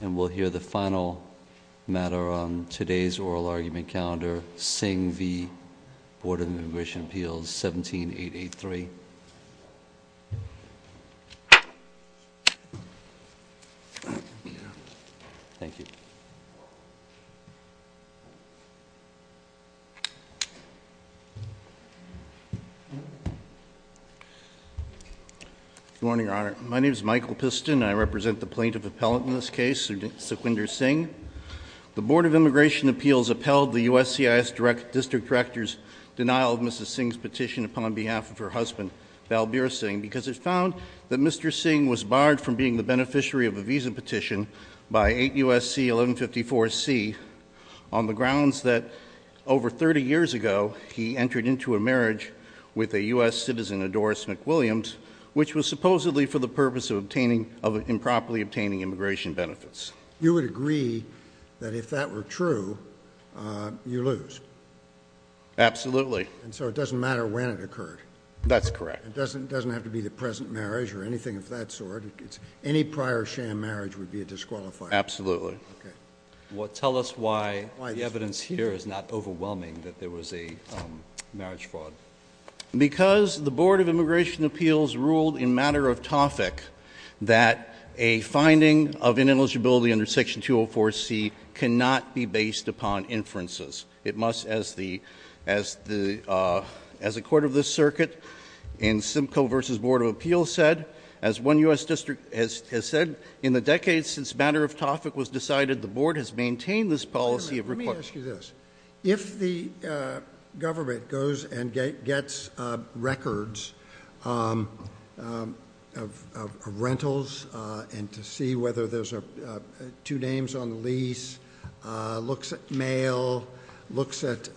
And we'll hear the final matter on today's oral argument calendar, SING v. Board of Immigration Appeals 17883. Thank you. Good morning, Your Honor. My name is Michael Piston. I represent the plaintiff appellate in this case, Suquinder Singh. The Board of Immigration Appeals upheld the USCIS District Director's denial of Mrs. Singh's petition upon behalf of her husband, Balbir Singh, because it found that Mr. Singh was barred from being the beneficiary of a visa petition by 8 U.S.C. 1154C on the grounds that over 30 years ago, he entered into a marriage with a U.S. citizen, a Doris McWilliams, which was supposedly for the purpose of improperly obtaining immigration benefits. You would agree that if that were true, you lose? Absolutely. And so it doesn't matter when it occurred? That's correct. It doesn't have to be the present marriage or anything of that sort. Any prior sham marriage would be a disqualifier. Absolutely. Tell us why the evidence here is not overwhelming that there was a marriage fraud. Because the Board of Immigration Appeals ruled in matter of topic that a finding of ineligibility under Section 204C cannot be based upon inferences. It must, as the Court of the Circuit in Simcoe v. Board of Appeals said, as one U.S. district has said, in the decades since matter of topic was decided, the Board has maintained this policy of request. If the government goes and gets records of rentals and to see whether there's two names on the lease, looks at mail, looks at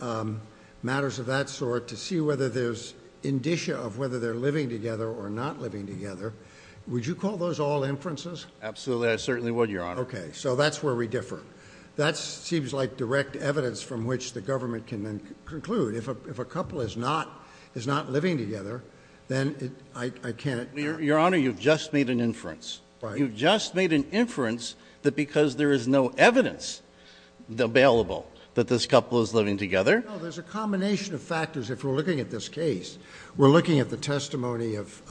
matters of that sort to see whether there's indicia of whether they're living together or not living together, would you call those all inferences? Absolutely. I certainly would, Your Honor. Okay. So that's where we differ. That seems like direct evidence from which the government can then conclude. If a couple is not living together, then I can't… Your Honor, you've just made an inference. You've just made an inference that because there is no evidence available that this couple is living together. No, there's a combination of factors if we're looking at this case. We're looking at the testimony of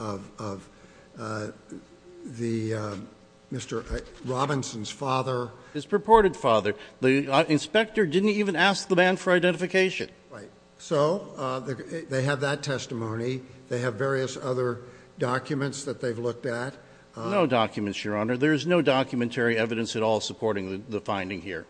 Mr. Robinson's father. His purported father. The inspector didn't even ask the man for identification. Right. So they have that testimony. They have various other documents that they've looked at. No documents, Your Honor. There is no documentary evidence at all supporting the finding here.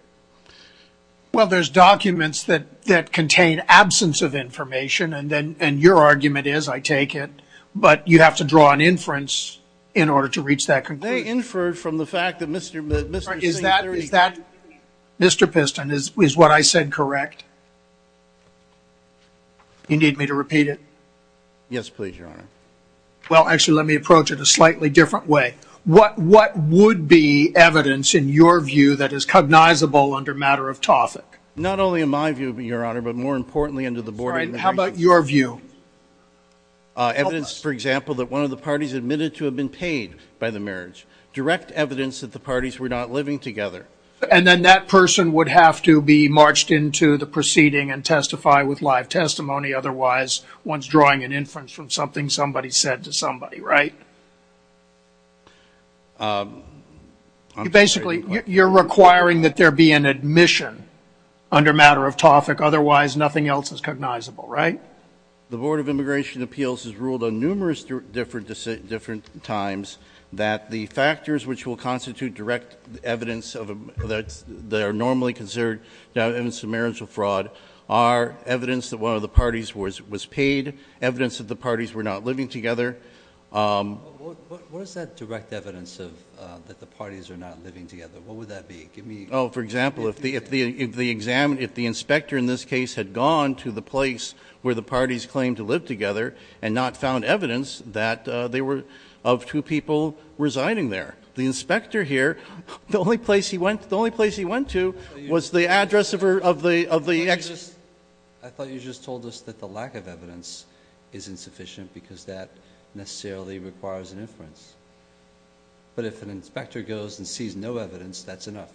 Well, there's documents that contain absence of information, and your argument is, I take it, but you have to draw an inference in order to reach that conclusion. They inferred from the fact that Mr. Singh… Mr. Piston, is what I said correct? You need me to repeat it? Yes, please, Your Honor. Well, actually, let me approach it a slightly different way. What would be evidence in your view that is cognizable under matter of topic? Not only in my view, Your Honor, but more importantly under the board… How about your view? Evidence, for example, that one of the parties admitted to have been paid by the marriage. Direct evidence that the parties were not living together. And then that person would have to be marched into the proceeding and testify with live testimony. Otherwise, one's drawing an inference from something somebody said to somebody, right? Basically, you're requiring that there be an admission under matter of topic. Otherwise, nothing else is cognizable, right? The Board of Immigration Appeals has ruled on numerous different times that the factors which will constitute direct evidence that are normally considered evidence of marital fraud are evidence that one of the parties was paid, evidence that the parties were not living together. What is that direct evidence that the parties are not living together? What would that be? For example, if the inspector in this case had gone to the place where the parties claimed to live together and not found evidence of two people residing there, the inspector here, the only place he went to was the address of the… I thought you just told us that the lack of evidence is insufficient because that necessarily requires an inference. But if an inspector goes and sees no evidence, that's enough.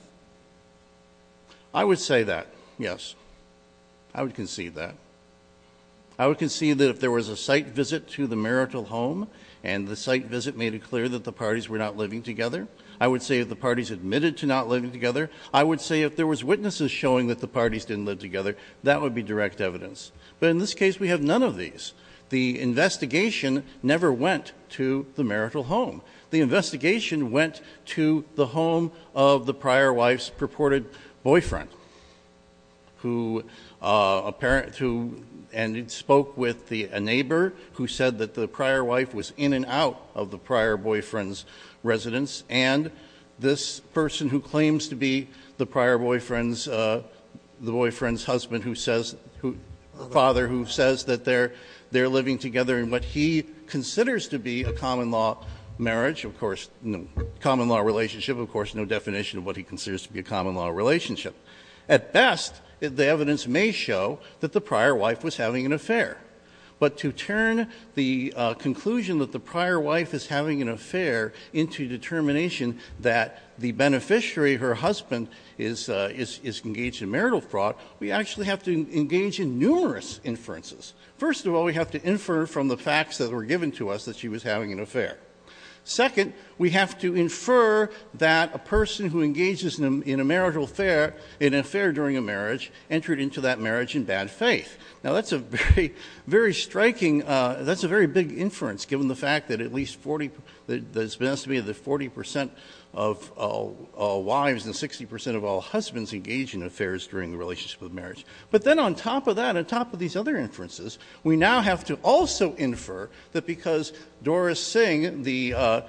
I would say that, yes. I would concede that. I would concede that if there was a site visit to the marital home and the site visit made it clear that the parties were not living together, I would say if the parties admitted to not living together, I would say if there was witnesses showing that the parties didn't live together, that would be direct evidence. But in this case, we have none of these. The investigation never went to the marital home. The investigation went to the home of the prior wife's purported boyfriend and spoke with a neighbor who said that the prior wife was in and out of the prior boyfriend's residence and this person who claims to be the boyfriend's husband, the father who says that they're living together in what he considers to be a common law marriage, of course, common law relationship, of course, no definition of what he considers to be a common law relationship. At best, the evidence may show that the prior wife was having an affair. But to turn the conclusion that the prior wife is having an affair into determination that the beneficiary, her husband, is engaged in marital fraud, we actually have to engage in numerous inferences. First of all, we have to infer from the facts that were given to us that she was having an affair. Second, we have to infer that a person who engages in an affair during a marriage entered into that marriage in bad faith. Now, that's a very striking, that's a very big inference, given the fact that at least 40% of wives and 60% of all husbands engage in affairs during the relationship of marriage. But then on top of that, on top of these other inferences, we now have to also infer that because Doris Singh, the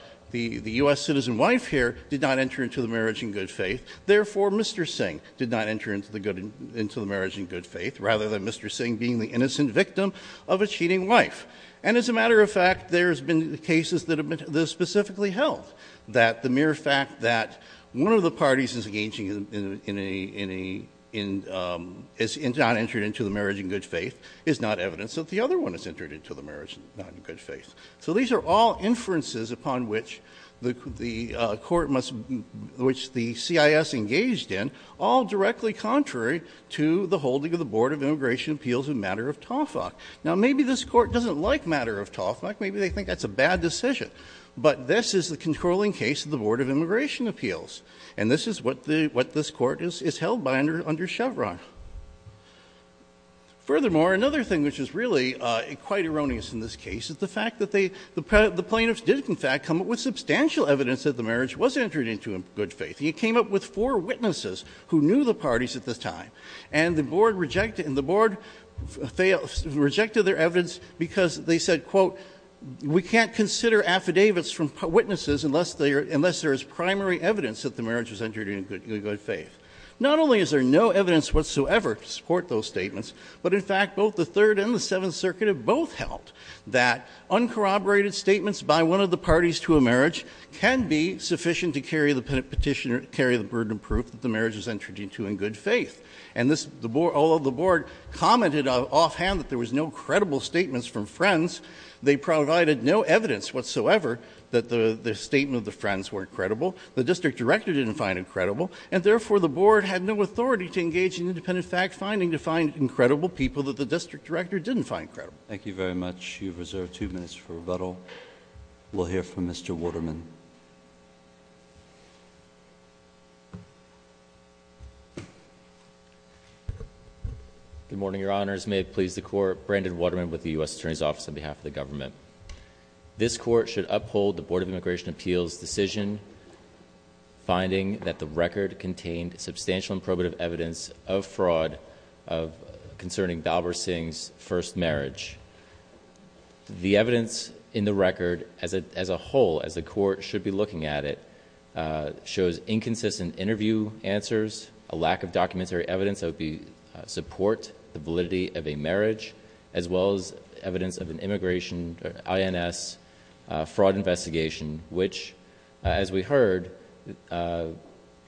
U.S. citizen wife here, did not enter into the marriage in good faith, therefore Mr. Singh did not enter into the marriage in good faith, rather than Mr. Singh being the innocent victim of a cheating wife. And as a matter of fact, there's been cases that have been specifically held that the mere fact that one of the parties is not entered into the marriage in good faith is not evidence that the other one is entered into the marriage not in good faith. So these are all inferences upon which the court must, which the CIS engaged in, all directly contrary to the holding of the Board of Immigration Appeals in matter of TOFAC. Now, maybe this court doesn't like matter of TOFAC, maybe they think that's a bad decision. But this is the controlling case of the Board of Immigration Appeals. And this is what this court is held by under Chevron. Furthermore, another thing which is really quite erroneous in this case is the fact that the plaintiffs did, in fact, come up with substantial evidence that the marriage was entered into in good faith. And you came up with four witnesses who knew the parties at this time. And the board rejected their evidence because they said, quote, we can't consider affidavits from witnesses unless there is primary evidence that the marriage was entered into in good faith. Not only is there no evidence whatsoever to support those statements, but, in fact, both the Third and the Seventh Circuit have both held that uncorroborated statements by one of the parties to a marriage can be sufficient to carry the petition or carry the burden of proof that the marriage was entered into in good faith. And all of the board commented offhand that there was no credible statements from friends. They provided no evidence whatsoever that the statement of the friends weren't credible. The district director didn't find it credible. And, therefore, the board had no authority to engage in independent fact-finding to find incredible people that the district director didn't find credible. Thank you very much. You've reserved two minutes for rebuttal. We'll hear from Mr. Waterman. Good morning, Your Honors. Your Honors, may it please the Court, Brandon Waterman with the U.S. Attorney's Office on behalf of the government. This Court should uphold the Board of Immigration Appeals' decision finding that the record contained substantial and probative evidence of fraud concerning Balbir Singh's first marriage. The evidence in the record as a whole, as the Court should be looking at it, shows inconsistent interview answers, a lack of documentary evidence that would support the validity of a marriage, as well as evidence of an INS fraud investigation, which, as we heard,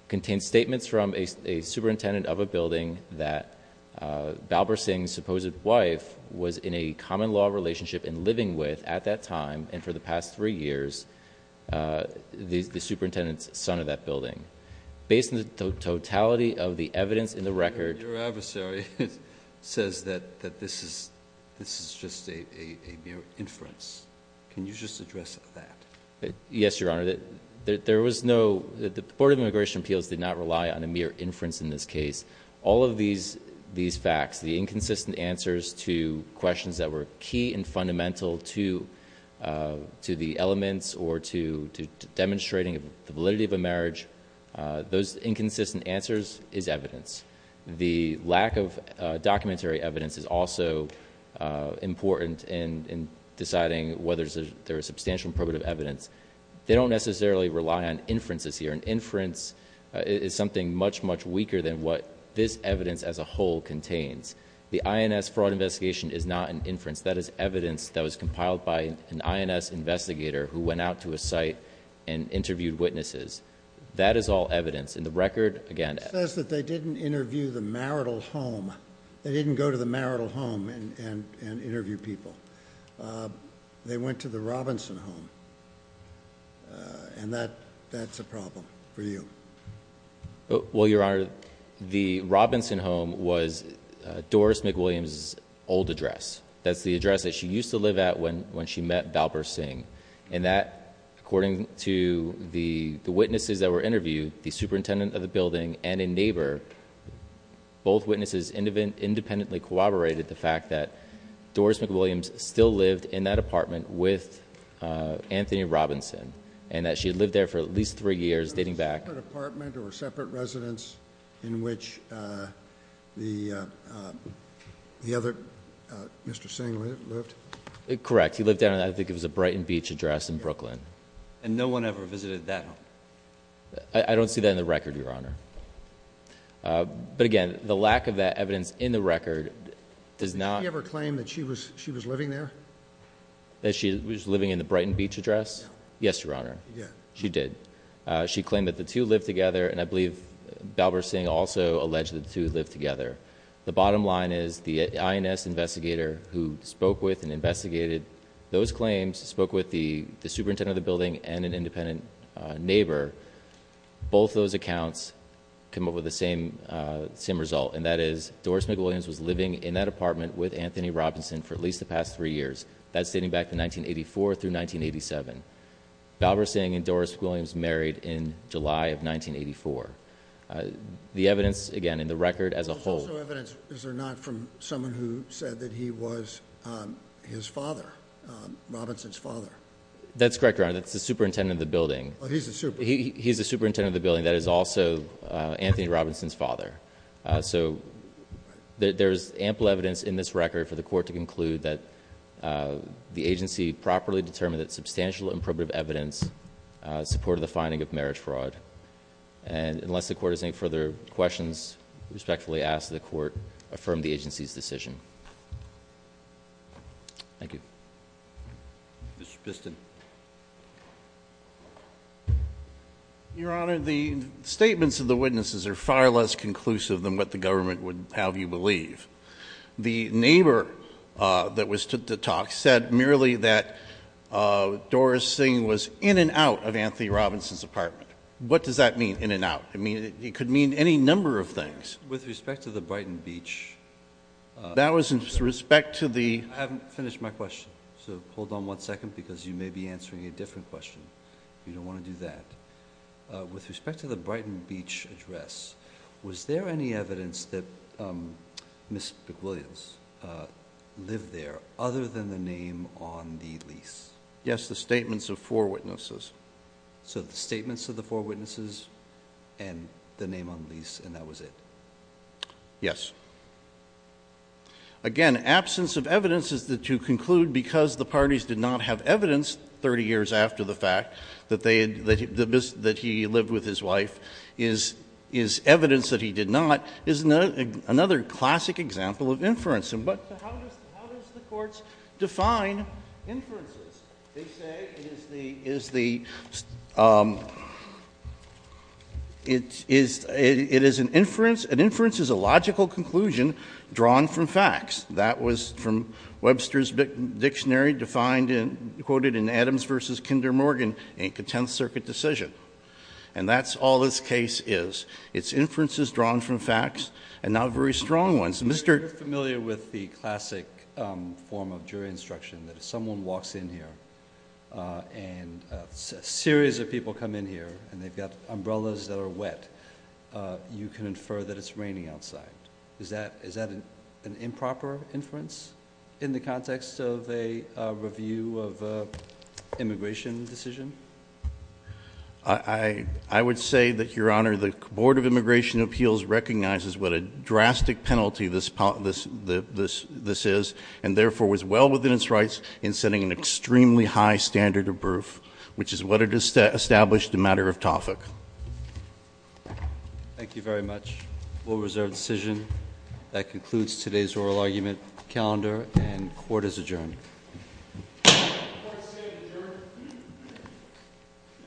contains statements from a superintendent of a building that Balbir Singh's supposed wife was in a common-law relationship and living with at that time and for the past three years, the superintendent's son of that building. Based on the totality of the evidence in the record... says that this is just a mere inference. Can you just address that? Yes, Your Honor. There was no... the Board of Immigration Appeals did not rely on a mere inference in this case. All of these facts, the inconsistent answers to questions that were key and fundamental to the elements or to demonstrating the validity of a marriage, those inconsistent answers is evidence. The lack of documentary evidence is also important in deciding whether there is substantial probative evidence. They don't necessarily rely on inferences here. An inference is something much, much weaker than what this evidence as a whole contains. The INS fraud investigation is not an inference. That is evidence that was compiled by an INS investigator who went out to a site and interviewed witnesses. That is all evidence. In the record, again... It says that they didn't interview the marital home. They didn't go to the marital home and interview people. They went to the Robinson home, and that's a problem for you. Well, Your Honor, the Robinson home was Doris McWilliams' old address. That's the address that she used to live at when she met Balper Singh. And that, according to the witnesses that were interviewed, the superintendent of the building and a neighbor, both witnesses independently corroborated the fact that Doris McWilliams still lived in that apartment with Anthony Robinson, and that she had lived there for at least three years, dating back... Was it a separate apartment or separate residence in which the other... Mr. Singh lived? Correct. He lived down at, I think it was a Brighton Beach address in Brooklyn. And no one ever visited that home? I don't see that in the record, Your Honor. But again, the lack of that evidence in the record does not... Did she ever claim that she was living there? That she was living in the Brighton Beach address? No. Yes, Your Honor. Yeah. She did. She claimed that the two lived together, and I believe Balper Singh also alleged that the two lived together. The bottom line is, the INS investigator who spoke with and investigated those claims, spoke with the superintendent of the building and an independent neighbor. Both those accounts come up with the same result. And that is, Doris McWilliams was living in that apartment with Anthony Robinson for at least the past three years. That's dating back to 1984 through 1987. Balper Singh and Doris McWilliams married in July of 1984. The evidence, again, in the record as a whole... There's also evidence, is there not, from someone who said that he was his father, Robinson's father? That's correct, Your Honor. That's the superintendent of the building. Oh, he's the superintendent. He's the superintendent of the building. That is also Anthony Robinson's father. So, there's ample evidence in this record for the court to conclude that the agency properly determined that substantial and probative evidence supported the finding of marriage fraud. And, unless the court has any further questions, I respectfully ask that the court affirm the agency's decision. Thank you. Mr. Piston. Your Honor, the statements of the witnesses are far less conclusive than what the government would have you believe. The neighbor that was to talk said merely that Doris Singh was in and out of Anthony Robinson's apartment. What does that mean, in and out? I mean, it could mean any number of things. With respect to the Brighton Beach... That was with respect to the... I haven't finished my question, so hold on one second because you may be answering a different question. You don't want to do that. With respect to the Brighton Beach address, was there any evidence that Ms. McWilliams lived there other than the name on the lease? Yes, the statements of four witnesses. So the statements of the four witnesses and the name on the lease, and that was it? Yes. Again, absence of evidence is to conclude because the parties did not have evidence 30 years after the fact that he lived with his wife is evidence that he did not, is another classic example of inference. But how does the courts define inferences? They say it is an inference. An inference is a logical conclusion drawn from facts. That was from Webster's Dictionary, quoted in Adams v. Kinder Morgan in Contempt Circuit Decision. And that's all this case is. It's inferences drawn from facts and not very strong ones. I'm very familiar with the classic form of jury instruction that if someone walks in here and a series of people come in here and they've got umbrellas that are wet, you can infer that it's raining outside. Is that an improper inference in the context of a review of an immigration decision? I would say that, Your Honor, the Board of Immigration Appeals recognizes what a drastic penalty this is, and therefore was well within its rights in sending an extremely high standard of proof, which is what it established in matter of topic. Thank you very much. We'll reserve the decision. That concludes today's oral argument calendar, and court is adjourned. Court is adjourned.